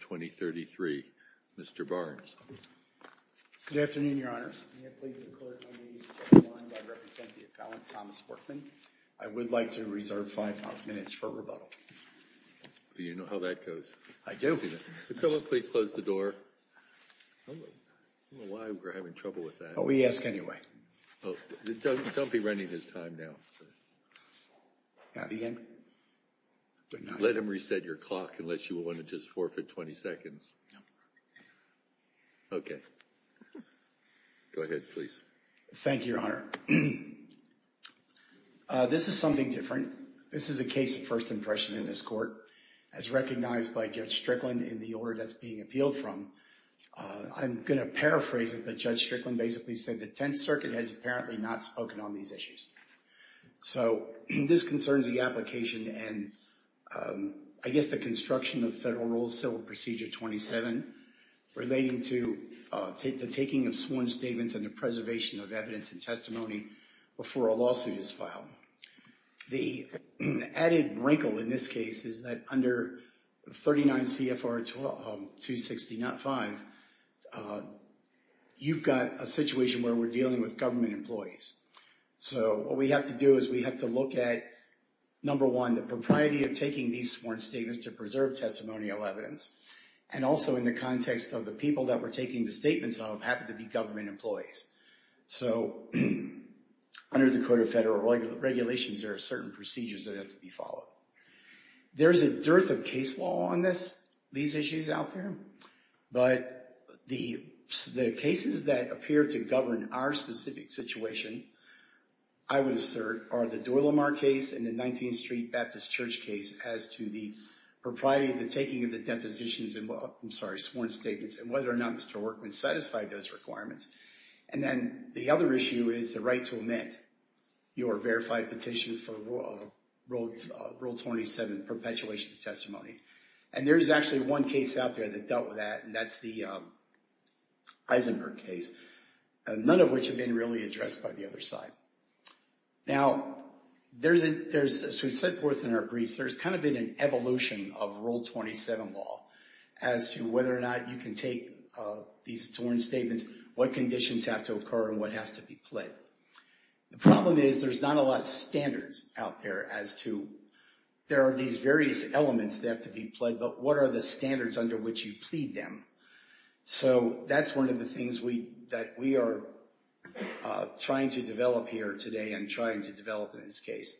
23 Mr. Barnes. Good afternoon, your honors. I would like to reserve five minutes for rebuttal. Do you know how that goes? I do. Could someone please close the door? I don't know why we're having trouble with that. We ask anyway. Don't be running his time now. Let him reset your clock unless you want to just forfeit 20 seconds. Okay. Go ahead, please. Thank you, your honor. This is something different. This is a case of first impression in this court as recognized by Judge Strickland in the order that's being appealed from. I'm going to paraphrase it, but Judge Strickland basically said the Tenth Circuit has apparently not spoken on these issues. So this concerns the application and I guess the construction of Federal Rule Civil Procedure 27 relating to the taking of sworn statements and the preservation of evidence and testimony before a lawsuit is filed. The added wrinkle in this case is that under 39 CFR 260.05, you've got a situation where we're dealing with government employees. So what we have to do is we have to look at, number one, the propriety of taking these sworn statements to preserve testimonial evidence and also in the context of the people that we're taking the statements of happen to be government employees. So under the Code of Federal Regulations, there are certain procedures that have to be followed. There's a dearth of law on this, these issues out there. But the cases that appear to govern our specific situation, I would assert, are the Doyle-Lamar case and the 19th Street Baptist Church case as to the propriety of the taking of the depositions and, I'm sorry, sworn statements and whether or not Mr. Workman satisfied those requirements. And then the other issue is the right to omit your verified petition for Rule 27, perpetuation of testimony. And there's actually one case out there that dealt with that, and that's the Eisenberg case, none of which have been really addressed by the other side. Now, as we set forth in our briefs, there's kind of been an evolution of Rule 27 law as to whether or not you can take these sworn statements, what conditions have to be met. What is, there's not a lot of standards out there as to, there are these various elements that have to be played, but what are the standards under which you plead them? So that's one of the things that we are trying to develop here today and trying to develop in this case.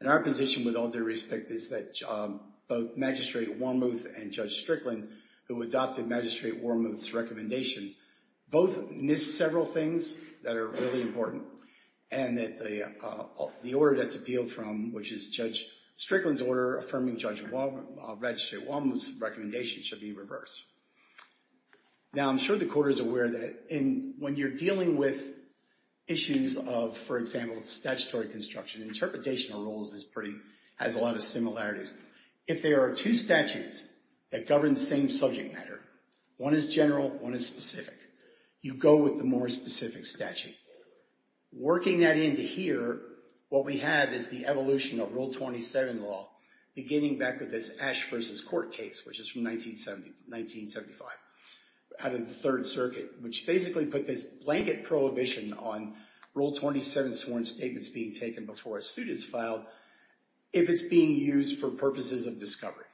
And our position, with all due respect, is that both Magistrate Wormuth and Judge Strickland, who adopted Magistrate Wormuth's recommendation, both missed several things that are really important, and that the order that's appealed from, which is Judge Strickland's order affirming Judge Wormuth's recommendation should be reversed. Now, I'm sure the Court is aware that when you're dealing with issues of, for example, statutory construction, interpretation of rules is pretty, has a lot of similarities. If there are two statutes that govern the same subject matter, one is general, one is specific. You go with the more specific statute. Working that into here, what we have is the evolution of Rule 27 law, beginning back with this Ash versus Court case, which is from 1970, 1975, out of the Third Circuit, which basically put this blanket prohibition on Rule 27 sworn statements being taken before a suit is filed, if it's being used for purposes of discovery.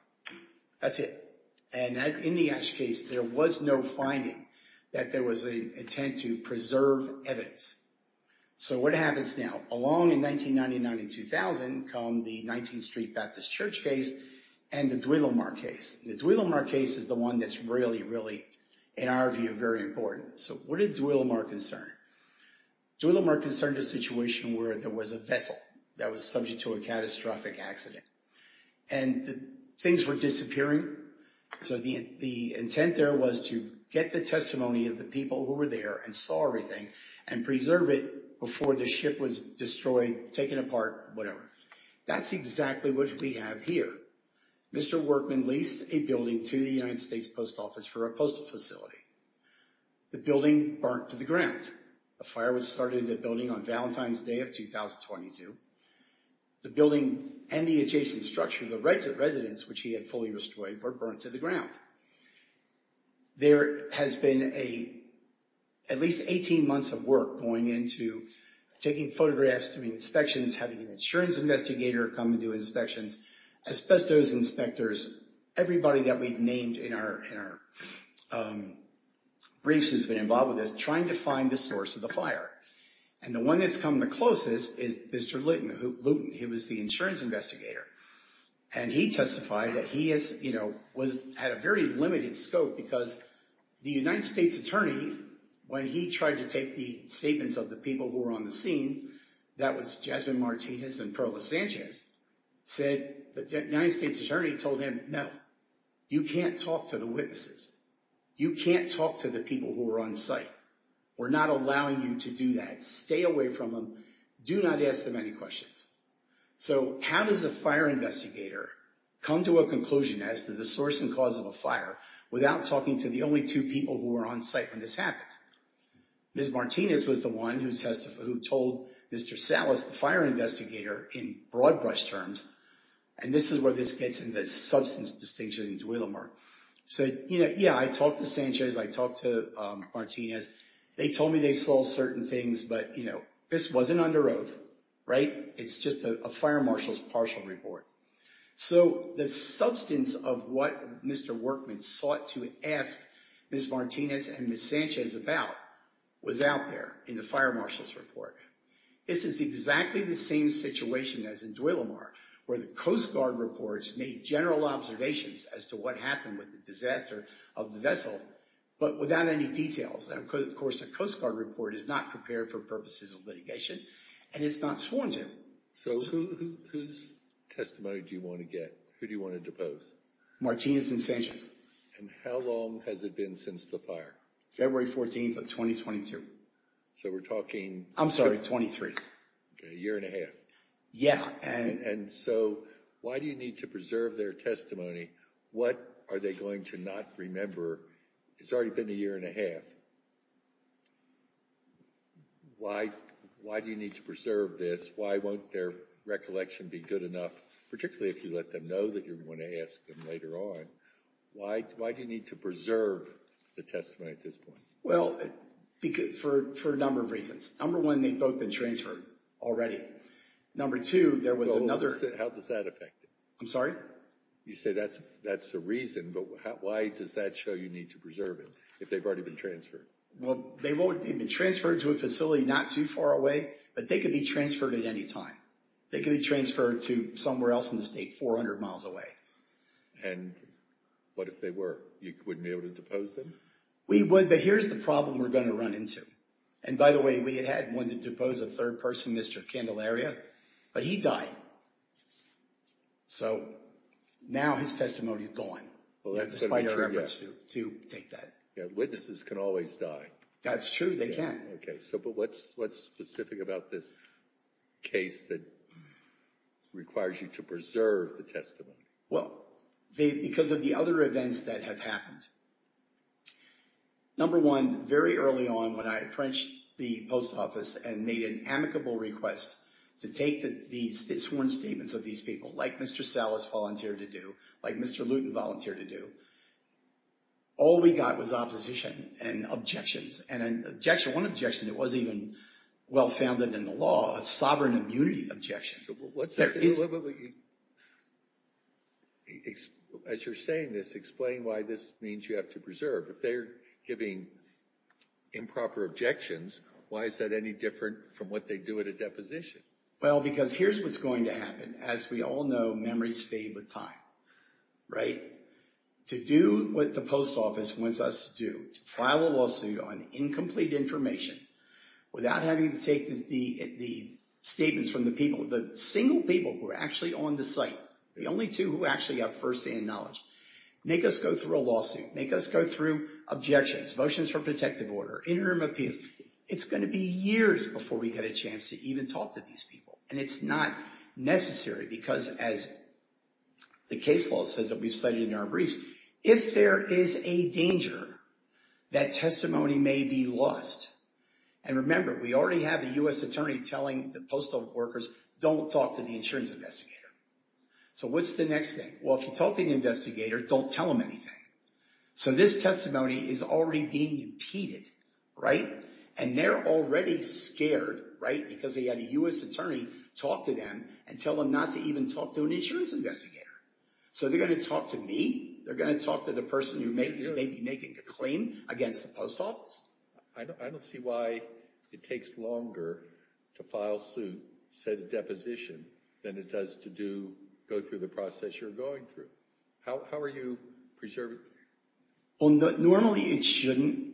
That's it. And in the Ash case, there was no finding that there was an intent to preserve evidence. So what happens now? Along in 1999 and 2000 come the 19th Street Baptist Church case and the Duillamar case. The Duillamar case is the one that's really, really, in our view, very important. So what did Duillamar concern? Duillamar concerned a situation where there was a vessel that was subject to a catastrophic accident and things were disappearing. So the intent there was to get the testimony of the people who were there and saw everything and preserve it before the ship was destroyed, taken apart, whatever. That's exactly what we have here. Mr. Workman leased a building to the United States Post Office for a postal facility. The building burnt to the ground. A fire was started in the building on Valentine's Day of 2022. The building and the adjacent structure, the residence, which he had fully destroyed, were burnt to the ground. There has been at least 18 months of work going into taking photographs, doing inspections, having an insurance investigator come and do inspections, asbestos inspectors, everybody that we've named in our briefs who's been involved with trying to find the source of the fire. And the one that's come the closest is Mr. Luton. He was the insurance investigator. And he testified that he had a very limited scope because the United States Attorney, when he tried to take the statements of the people who were on the scene, that was Jasmine Martinez and Perla Sanchez, said the United States Attorney told him, no, you can't talk to the witnesses. You can't talk to the people who were on site. We're not allowing you to do that. Stay away from them. Do not ask them any questions. So how does a fire investigator come to a conclusion as to the source and cause of a fire without talking to the only two people who were on site when this happened? Ms. Martinez was the one who told Mr. Salas, the fire investigator, in broad brush terms, and this is where this gets into substance distinction in Duilamar, said, yeah, I talked to Sanchez. I talked to Martinez. They told me they saw certain things, but this wasn't under oath, right? It's just a fire marshal's partial report. So the substance of what Mr. Workman sought to ask Ms. Martinez and Ms. Sanchez about was out there in the fire marshal's report. This is exactly the same situation as in Duilamar, where the Coast Guard reports made general observations as to what happened with the disaster of the vessel, but without any details. Of course, the Coast Guard report is not prepared for purposes of litigation, and it's not sworn to. So whose testimony do you want to get? Who do you want to depose? Martinez and Sanchez. And how long has it been since the fire? February 14th of 2022. So we're talking... I'm sorry, 23. Okay, a year and a half. Yeah. And so why do you need to preserve their testimony? What are they going to not remember? It's already been a year and a half. Why do you need to preserve this? Why won't their recollection be good enough, particularly if you let them know that you're going to ask them later on? Why do you need to preserve the testimony at this point? Well, for a number of reasons. Number one, they've both been transferred already. Number two, there was another... How does that affect it? I'm sorry? You say that's the reason, but why does that show you need to preserve it if they've already been transferred? Well, they've been transferred to a facility not too far away, but they could be transferred at any time. They could be transferred to somewhere else in the world. What if they were? You wouldn't be able to depose them? We would, but here's the problem we're going to run into. And by the way, we had had one to depose a third person, Mr. Candelaria, but he died. So now his testimony is gone, despite our efforts to take that. Witnesses can always die. That's true. They can. Okay. So, but what's specific about this case that requires you to preserve the testimony? Well, because of the other events that have happened. Number one, very early on when I apprenticed the post office and made an amicable request to take the sworn statements of these people, like Mr. Salas volunteered to do, like Mr. Luton volunteered to do, all we got was opposition and objections. And an objection, one objection that wasn't even well-founded in the law, a sovereign immunity objection. As you're saying this, explain why this means you have to preserve. If they're giving improper objections, why is that any different from what they do at a deposition? Well, because here's what's going to happen. As we all know, memories fade with time, right? To do what the post office wants us to do, to file a lawsuit on incomplete information without having to take the statements from the people, the single people who are actually on the site, the only two who actually have first-hand knowledge, make us go through a lawsuit, make us go through objections, motions for protective order, interim appeals. It's going to be years before we get a chance to even talk to these people. And it's not necessary because as the case law says that we've studied in our briefs, if there is a danger, that testimony may be lost. And remember, we already have the US attorney telling the postal workers, don't talk to the insurance investigator. So what's the next thing? Well, if you talk to the investigator, don't tell them anything. So this testimony is already being impeded, right? And they're already scared, right? Because they had a US attorney talk to them and tell them not to even talk to an insurance investigator. So they're going to talk to me. They're going to talk to the person who may be making a claim against the post office. I don't see why it takes longer to file suit, set a deposition than it does to go through the process you're going through. How are you going to preserve it? Well, normally it shouldn't.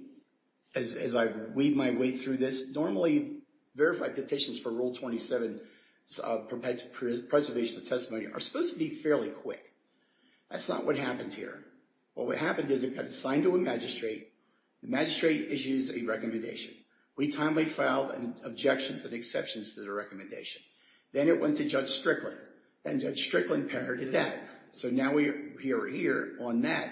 As I've weaved my way through this, normally verified petitions for Rule 27 preservation of testimony are supposed to be fairly quick. That's not what happened here. What happened is it got assigned to a magistrate. The magistrate issues a recommendation. We timely filed objections and exceptions to the recommendation. Then it went to Judge Strickland. And Judge Strickland parodied that. So now we're here on that.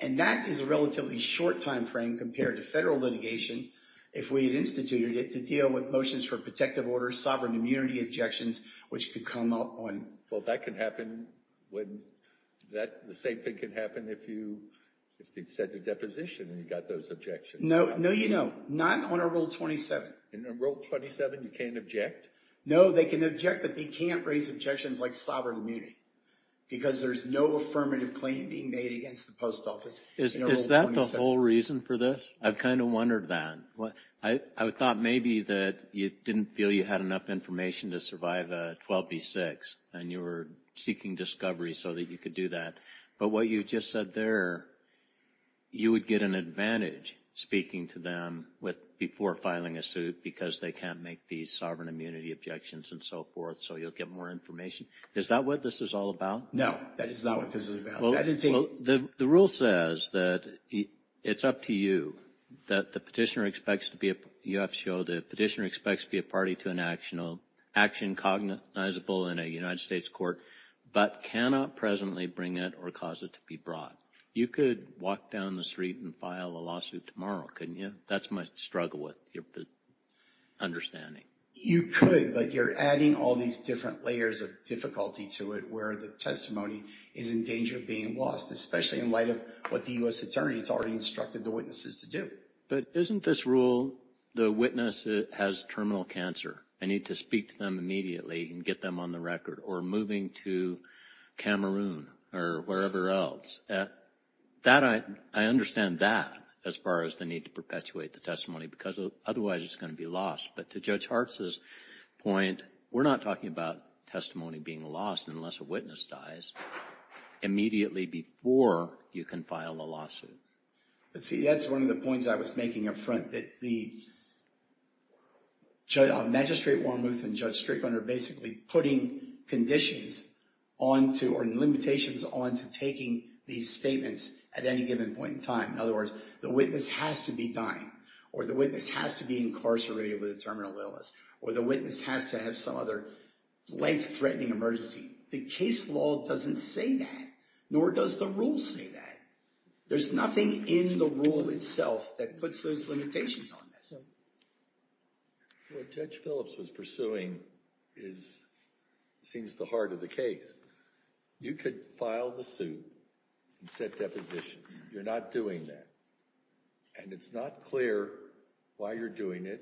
And that is a relatively short time frame compared to federal litigation if we had instituted it to deal with motions for protective orders, sovereign immunity objections, which could come up on- Well, that can happen when that the same thing can happen if you if they set the deposition and you got those objections. No, no, you know, not on a Rule 27. In a Rule 27, you can't object? No, they can object, but they can't raise objections like sovereign immunity because there's no affirmative claim being made against the post office. Is that the whole reason for this? I've kind of wondered that. I thought maybe that you didn't feel you had enough information to survive a 12b6 and you were seeking discovery so that you could do that. But what you just said there, you would get an advantage speaking to them with before filing a suit because they can't make these sovereign immunity objections and so forth. So you'll get more information. Is that what this is all about? No, that is not what this is about. Well, the rule says that it's up to you that the petitioner expects to be a UFCO. The petitioner expects to be a party to an action cognizable in a United States court, but cannot presently bring it or cause it to be brought. You could walk down the street and file a lawsuit tomorrow, couldn't you? That's my struggle with your understanding. You could, but you're adding all these different layers of difficulty to it where the testimony is in danger of being lost, especially in light of what the U.S. Attorney has already instructed the witnesses to do. But isn't this rule, the witness has terminal cancer. I need to speak to them immediately and get them on the record or moving to Cameroon or wherever else. I understand that as far as they perpetuate the testimony because otherwise it's going to be lost. But to Judge Hartz's point, we're not talking about testimony being lost unless a witness dies immediately before you can file a lawsuit. But see, that's one of the points I was making up front that the magistrate Wormuth and Judge Strickland are basically putting conditions on to or limitations on to taking these statements at any given point in time. In other words, the witness has to be dying, or the witness has to be incarcerated with a terminal illness, or the witness has to have some other life-threatening emergency. The case law doesn't say that, nor does the rule say that. There's nothing in the rule itself that puts those limitations on this. What Judge Phillips was pursuing seems the heart of the case. You could file the suit and set depositions. You're not doing that. And it's not clear why you're doing it.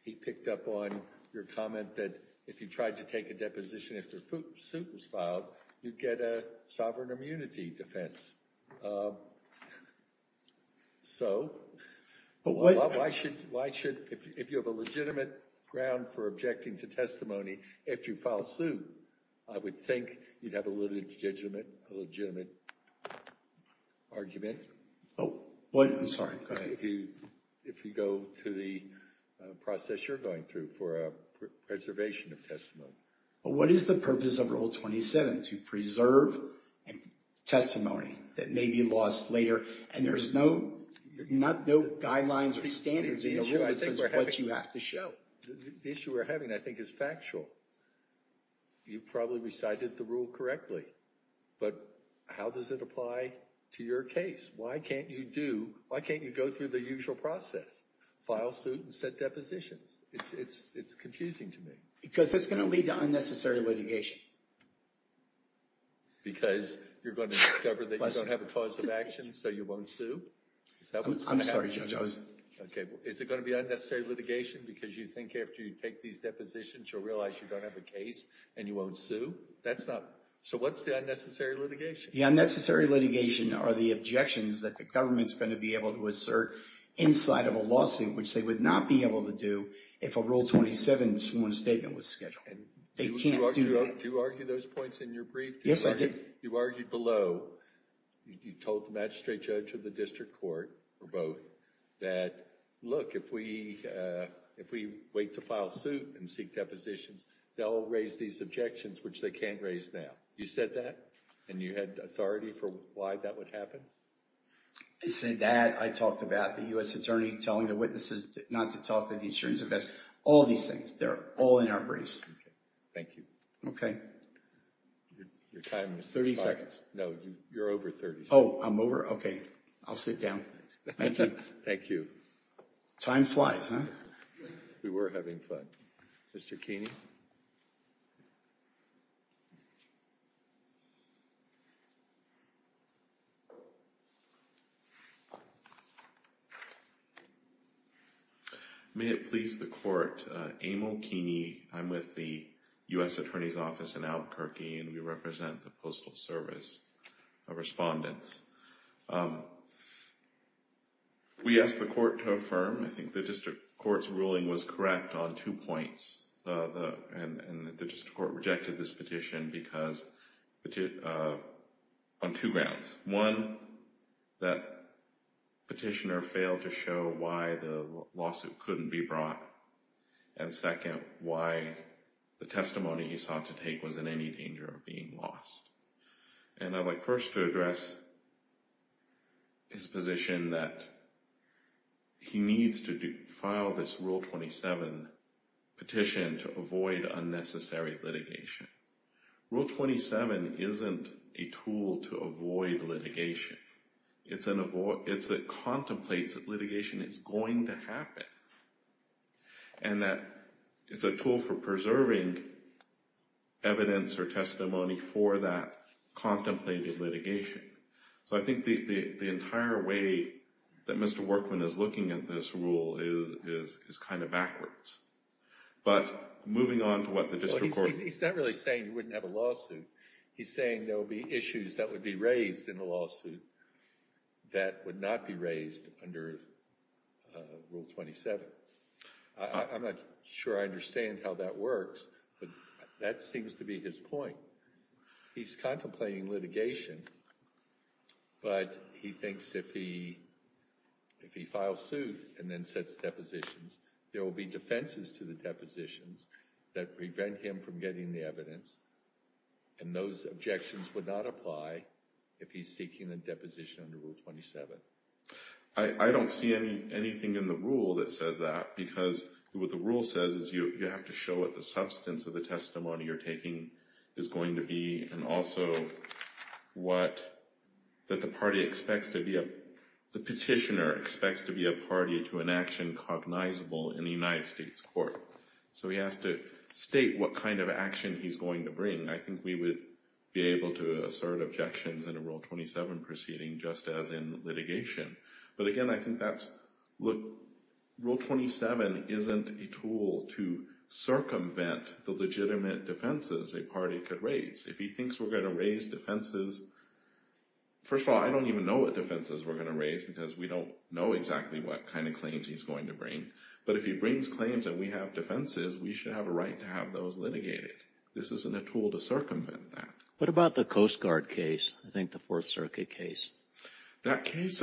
He picked up on your comment that if you tried to take a deposition, if the suit was filed, you'd get a sovereign immunity defense. So why should, if you have a legitimate ground for objecting to testimony, if you file a suit, I would think you'd have a legitimate argument if you go to the process you're going through for preservation of testimony. But what is the purpose of Rule 27? To preserve testimony that may be lost later, and there's no guidelines or standards in the rule that says what you have to show. The issue we're having, I think, is factual. You probably recited the rule correctly, but how does it apply to your case? Why can't you do, why can't you go through the usual process? File suit and set depositions? It's confusing to me. Because it's going to lead to unnecessary litigation. Because you're going to discover that you don't have a cause of action, so you won't sue? I'm sorry, Judge. Is it going to be unnecessary litigation because you think after you take these depositions you'll realize you don't have a case and you won't sue? That's not, so what's the unnecessary litigation? The unnecessary litigation are the objections that the government's going to be able to assert inside of a lawsuit, which they would not be able to do if a Rule 27 sworn statement was scheduled. They can't do that. Do you argue those points in your brief? Yes, I do. You argued below, you told the magistrate judge or the district court or both that, look, if we wait to file suit and seek depositions, they'll raise these objections, which they can't raise now. You said that, and you had authority for why that would happen? I said that. I talked about the U.S. attorney telling the witnesses not to talk to the insurance investigation. All these things, they're all in our briefs. Thank you. Okay. Your time is up. 30 seconds. No, you're over 30 seconds. Oh, I'm over? Okay. I'll sit down. Thank you. Time flies, huh? We were having fun. Mr. Keeney? May it please the court, Amal Keeney. I'm with the U.S. Attorney's Office in Albuquerque, and we represent the Postal Service of Respondents. We asked the court to affirm. I think the district court's ruling was correct on two points. And the district court rejected this petition because, on two grounds. One, that petitioner failed to show why the lawsuit couldn't be brought. And second, why the testimony he sought to take was in any danger of being lost. And I'd like first to address his position that he needs to file this Rule 27 petition to avoid unnecessary litigation. Rule 27 isn't a tool to avoid litigation. It's a contemplates that litigation is going to happen. And that it's a tool for preserving evidence or testimony for that contemplated litigation. So I think the entire way that Mr. Workman is looking at this rule is kind of backwards. But moving on to what the district court... Well, he's not really saying you wouldn't have a lawsuit. He's saying there will be issues that would be raised in a lawsuit that would not be raised under Rule 27. I'm not sure I understand how that works, but that seems to be his point. He's contemplating litigation, but he thinks if he files suit and then sets depositions, there will be defenses to the depositions that prevent him from getting the evidence. And those objections would not apply if he's seeking a deposition under Rule 27. I don't see anything in the rule that says that, because what the rule says is you have to show what the substance of the testimony you're taking is going to be, and also what the petitioner expects to be a party to an action cognizable in the United States court. So he has to state what kind of action he's going to bring. I think we would be able to assert objections in a Rule 27 proceeding just as in litigation. But again, I think that's... Rule 27 isn't a tool to circumvent the legitimate defenses a party could raise. If he thinks we're going to raise defenses... First of all, I don't even know what defenses we're going to raise, because we don't know exactly what kind of claims he's going to bring. But if he brings claims that we have defenses, we should have a right to have those litigated. This isn't a tool to circumvent that. What about the Coast Guard case? I think the Coast Guard case was a part of the Coast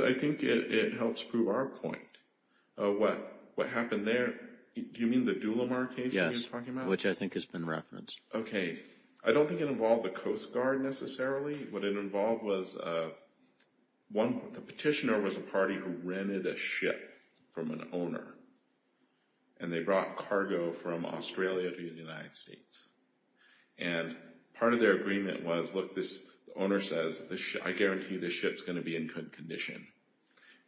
Guard case. I don't think it involved the Coast Guard necessarily. What it involved was the petitioner was a party who rented a ship from an owner, and they brought cargo from Australia to the United States. And part of their agreement was, the owner says, I guarantee this ship's going to be in good condition.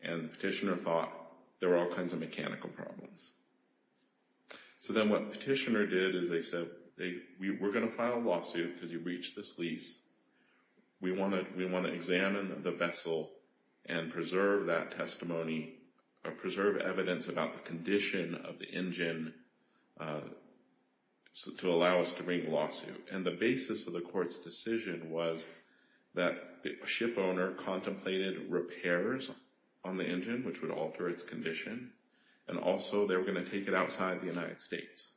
And the petitioner thought there were all kinds of mechanical problems. So then what the petitioner did is they said, we're going to file a lawsuit because you've reached this lease. We want to examine the vessel and preserve that testimony, preserve evidence about the condition of the engine to allow us to bring a lawsuit. And the court's decision was that the ship owner contemplated repairs on the engine, which would alter its condition. And also they were going to take it outside the United States.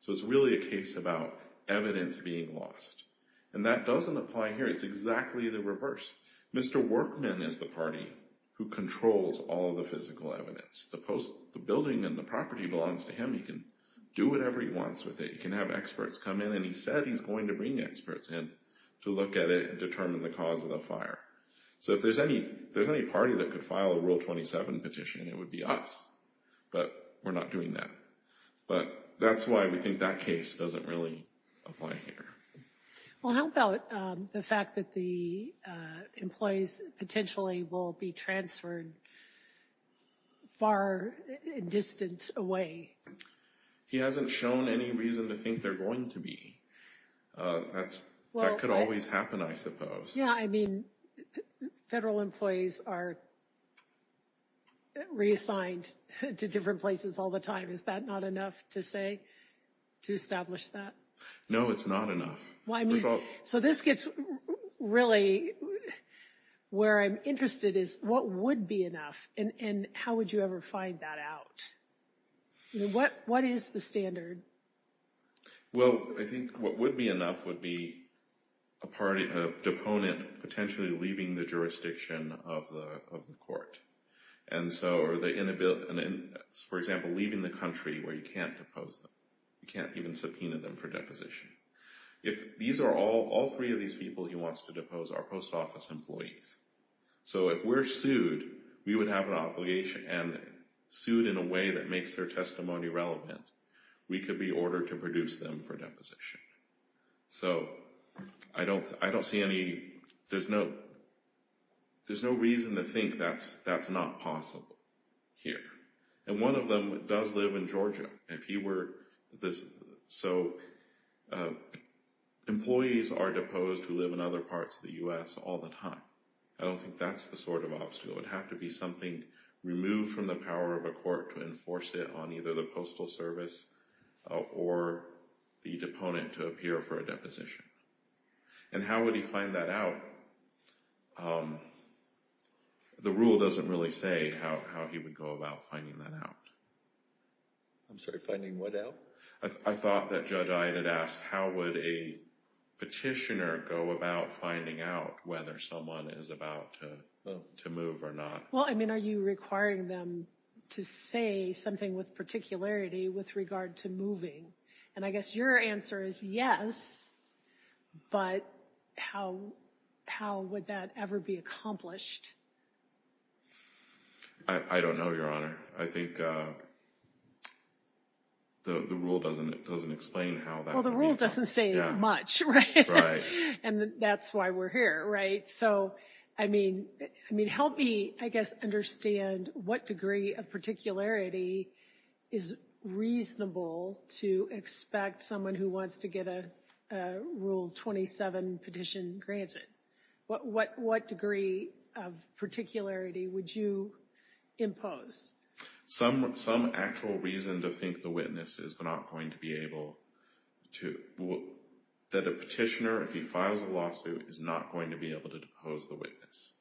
So it's really a case about evidence being lost. And that doesn't apply here. It's exactly the reverse. Mr. Workman is the party who controls all the physical evidence. The building and the property belongs to him. He can do whatever he wants with it. He can have experts come in, and he said he's going to bring experts in to look at it and determine the cause of the fire. So if there's any party that could file a Rule 27 petition, it would be us. But we're not doing that. But that's why we think that case doesn't really apply here. Well, how about the fact that the employees potentially will be transferred far and distant away? He hasn't shown any reason to think they're going to be. That could always happen, I suppose. Yeah, I mean, federal employees are reassigned to different places all the time. Is that not enough to say, to establish that? No, it's not enough. So this gets really... Where I'm interested is, what would be enough? And how would you ever find that out? What is the standard? Well, I think what would be enough would be a deponent potentially leaving the jurisdiction of the court. For example, leaving the country where you can't depose them. You can't even subpoena them for deposition. All three of us are deposed. So if we're sued, we would have an obligation and sued in a way that makes their testimony relevant. We could be ordered to produce them for deposition. So I don't see any... There's no reason to think that's not possible here. And one of them does live in Georgia. If he were... So employees are deposed who live in other parts of the U.S. all the time. I don't think that's the sort of obstacle. It would have to be something removed from the power of a court to enforce it on either the postal service or the deponent to appear for a deposition. And how would he find that out? The rule doesn't really say how he would go about finding that out. I'm sorry, finding what out? I thought that Judge Iyatt had asked, how would a petitioner go about finding out whether someone is about to move or not? Well, I mean, are you requiring them to say something with particularity with regard to moving? And I guess your answer is yes, but how would that ever be accomplished? I don't know, Your Honor. I think the rule doesn't explain how that would be done. Well, the rule doesn't say much, right? And that's why we're here, right? So, I mean, help me, I guess, understand what degree of particularity is reasonable to expect someone who wants to get a 27 petition granted. What degree of particularity would you impose? Some actual reason to think the witness is not going to be able to. That a petitioner, if he files a lawsuit, is not going to be able to depose the witness.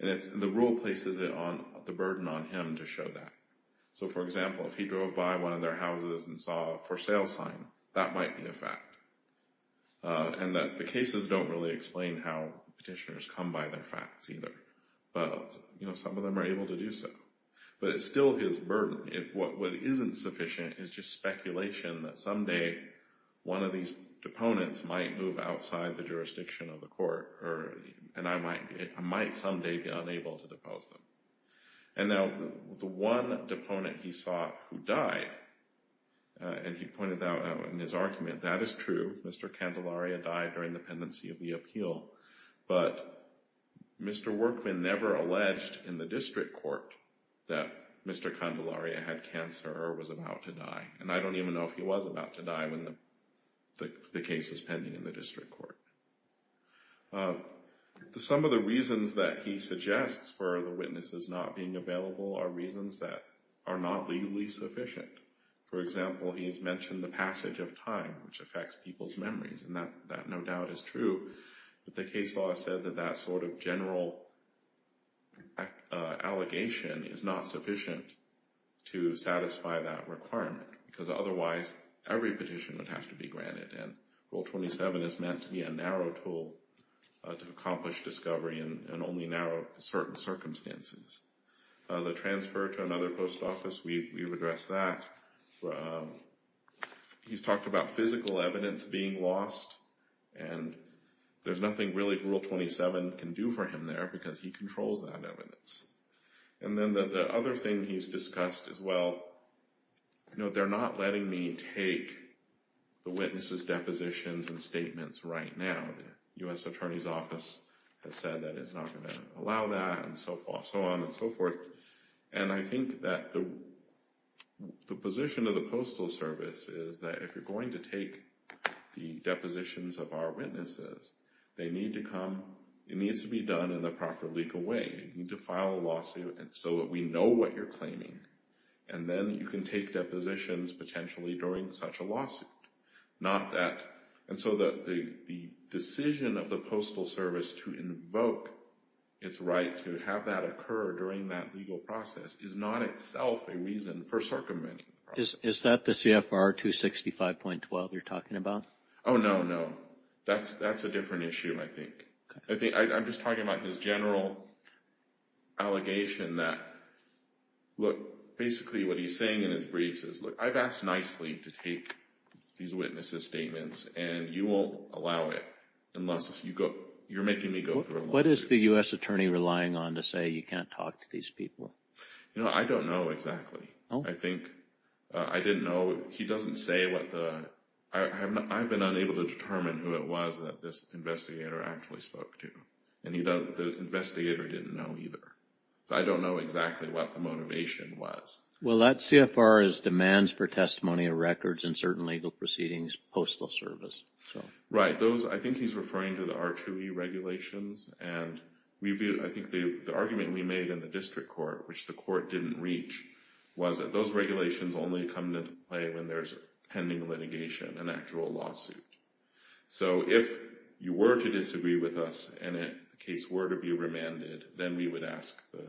And the rule places the burden on him to show that. So, for example, if he drove by one of their houses and saw for sale sign, that might be a fact. And that the cases don't really explain how petitioners come by their facts either. But, you know, some of them are able to do so. But it's still his burden. What isn't sufficient is just speculation that someday one of these deponents might move outside the jurisdiction of the court, and I might someday be unable to depose them. And now, the one deponent he saw who died, and he pointed out in his argument, that is true, Mr. Candelaria died during the pendency of the appeal. But Mr. Workman never alleged in the district court that Mr. Candelaria had cancer or was about to die. And I don't even know if he was about to die when the case was pending in the district court. Some of the reasons that he suggests for the witnesses not being available are reasons that are not legally sufficient. For example, he's mentioned the passage of time, which affects people's memories. And that, no doubt, is true. But the case law said that that sort of general allegation is not sufficient to satisfy that requirement. Because otherwise, every petition would have to be granted. And Rule 27 is meant to be a narrow tool to accomplish discovery and only narrow certain circumstances. The transfer to another post office, we've addressed that. He's talked about physical evidence being lost, and there's nothing really Rule 27 can do for him there because he controls that evidence. And then the other thing he's discussed as well, you know, they're not letting me take the witnesses' depositions and statements right now. The U.S. Attorney's Office has said that it's not going to allow that and so on and so forth. And I think that the position of the Postal Service is that if you're going to take the depositions of our witnesses, it needs to be done in the proper legal way. You need to file a lawsuit so that we know what you're claiming. And then you can take depositions potentially during such a lawsuit. Not that, and so the decision of the Postal Service to invoke its right to have that occur during that legal process is not itself a reason for circumventing the process. Is that the CFR 265.12 you're talking about? Oh, no, no. That's a different issue, I think. I'm just talking about this general allegation that, look, basically what he's saying in his briefs is, look, I've asked nicely to take these witnesses' statements and you won't allow it unless you go, you're making me go through a lawsuit. What is the U.S. Attorney relying on to say you can't talk to these people? You know, I don't know exactly. I think, I didn't know, he doesn't say what the, I've been unable to determine who it was that this investigator actually spoke to. And he doesn't, the investigator didn't know either. So I don't know exactly what the motivation was. Well, that CFR is demands for testimony of records and certain legal proceedings, Postal Service. Right. Those, I think he's referring to the R2E regulations. And we view, I think the argument we made in the district court, which the court didn't reach, was that those regulations only come into play when there's pending litigation, an actual lawsuit. So if you were to disagree with us and the case were to be remanded, then we would ask the,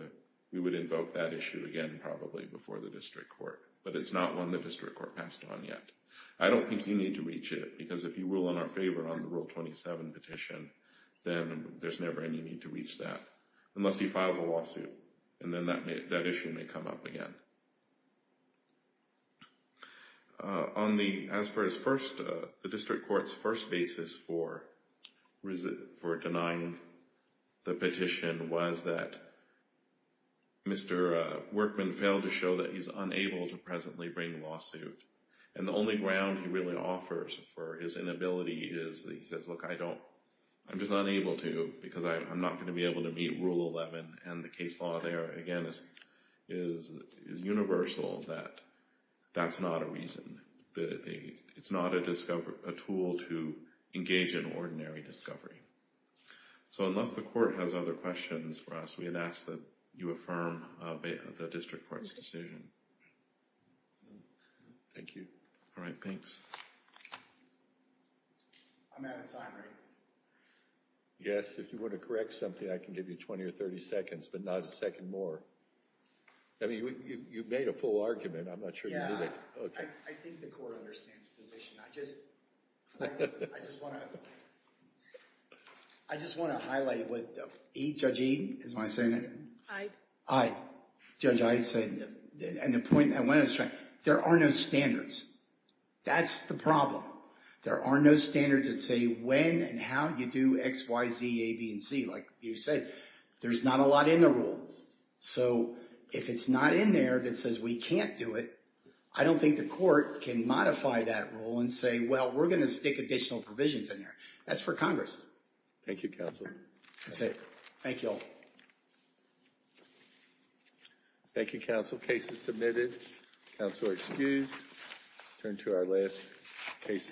we would invoke that issue again, probably before the district court. But it's not one the district court passed on yet. I don't think you need to reach it because if you will in our favor on the Rule 27 petition, then there's never any need to reach that unless he files a lawsuit. And then that issue may come up again. On the, as far as first, the district court's first basis for denying the petition was that Mr. Workman failed to show that he's unable to presently bring a lawsuit. And the only ground he really offers for his inability is he says, look, I don't, I'm just unable to because I'm not going to be able to meet Rule 11. And the case law there, again, is universal that that's not a reason. It's not a discovery, a tool to engage in ordinary discovery. So unless the court has other questions for us, we would ask that you affirm the district court's decision. Thank you. All right, thanks. I'm out of time, right? Yes, if you want to correct something, I can give you 20 or 30 seconds, but not a second more. I mean, you've made a full argument. I'm not sure you need it. Yeah, I think the court understands the position. I just want to highlight what Judge Eaton is my standards. That's the problem. There are no standards that say when and how you do X, Y, Z, A, B, and C. Like you said, there's not a lot in the rule. So if it's not in there that says we can't do it, I don't think the court can modify that rule and say, well, we're going to stick additional provisions in there. That's for Congress. Thank you, counsel. That's it. Thank you all. Thank you, counsel. Case is submitted. Counselor excused. Turn to our last case of the day.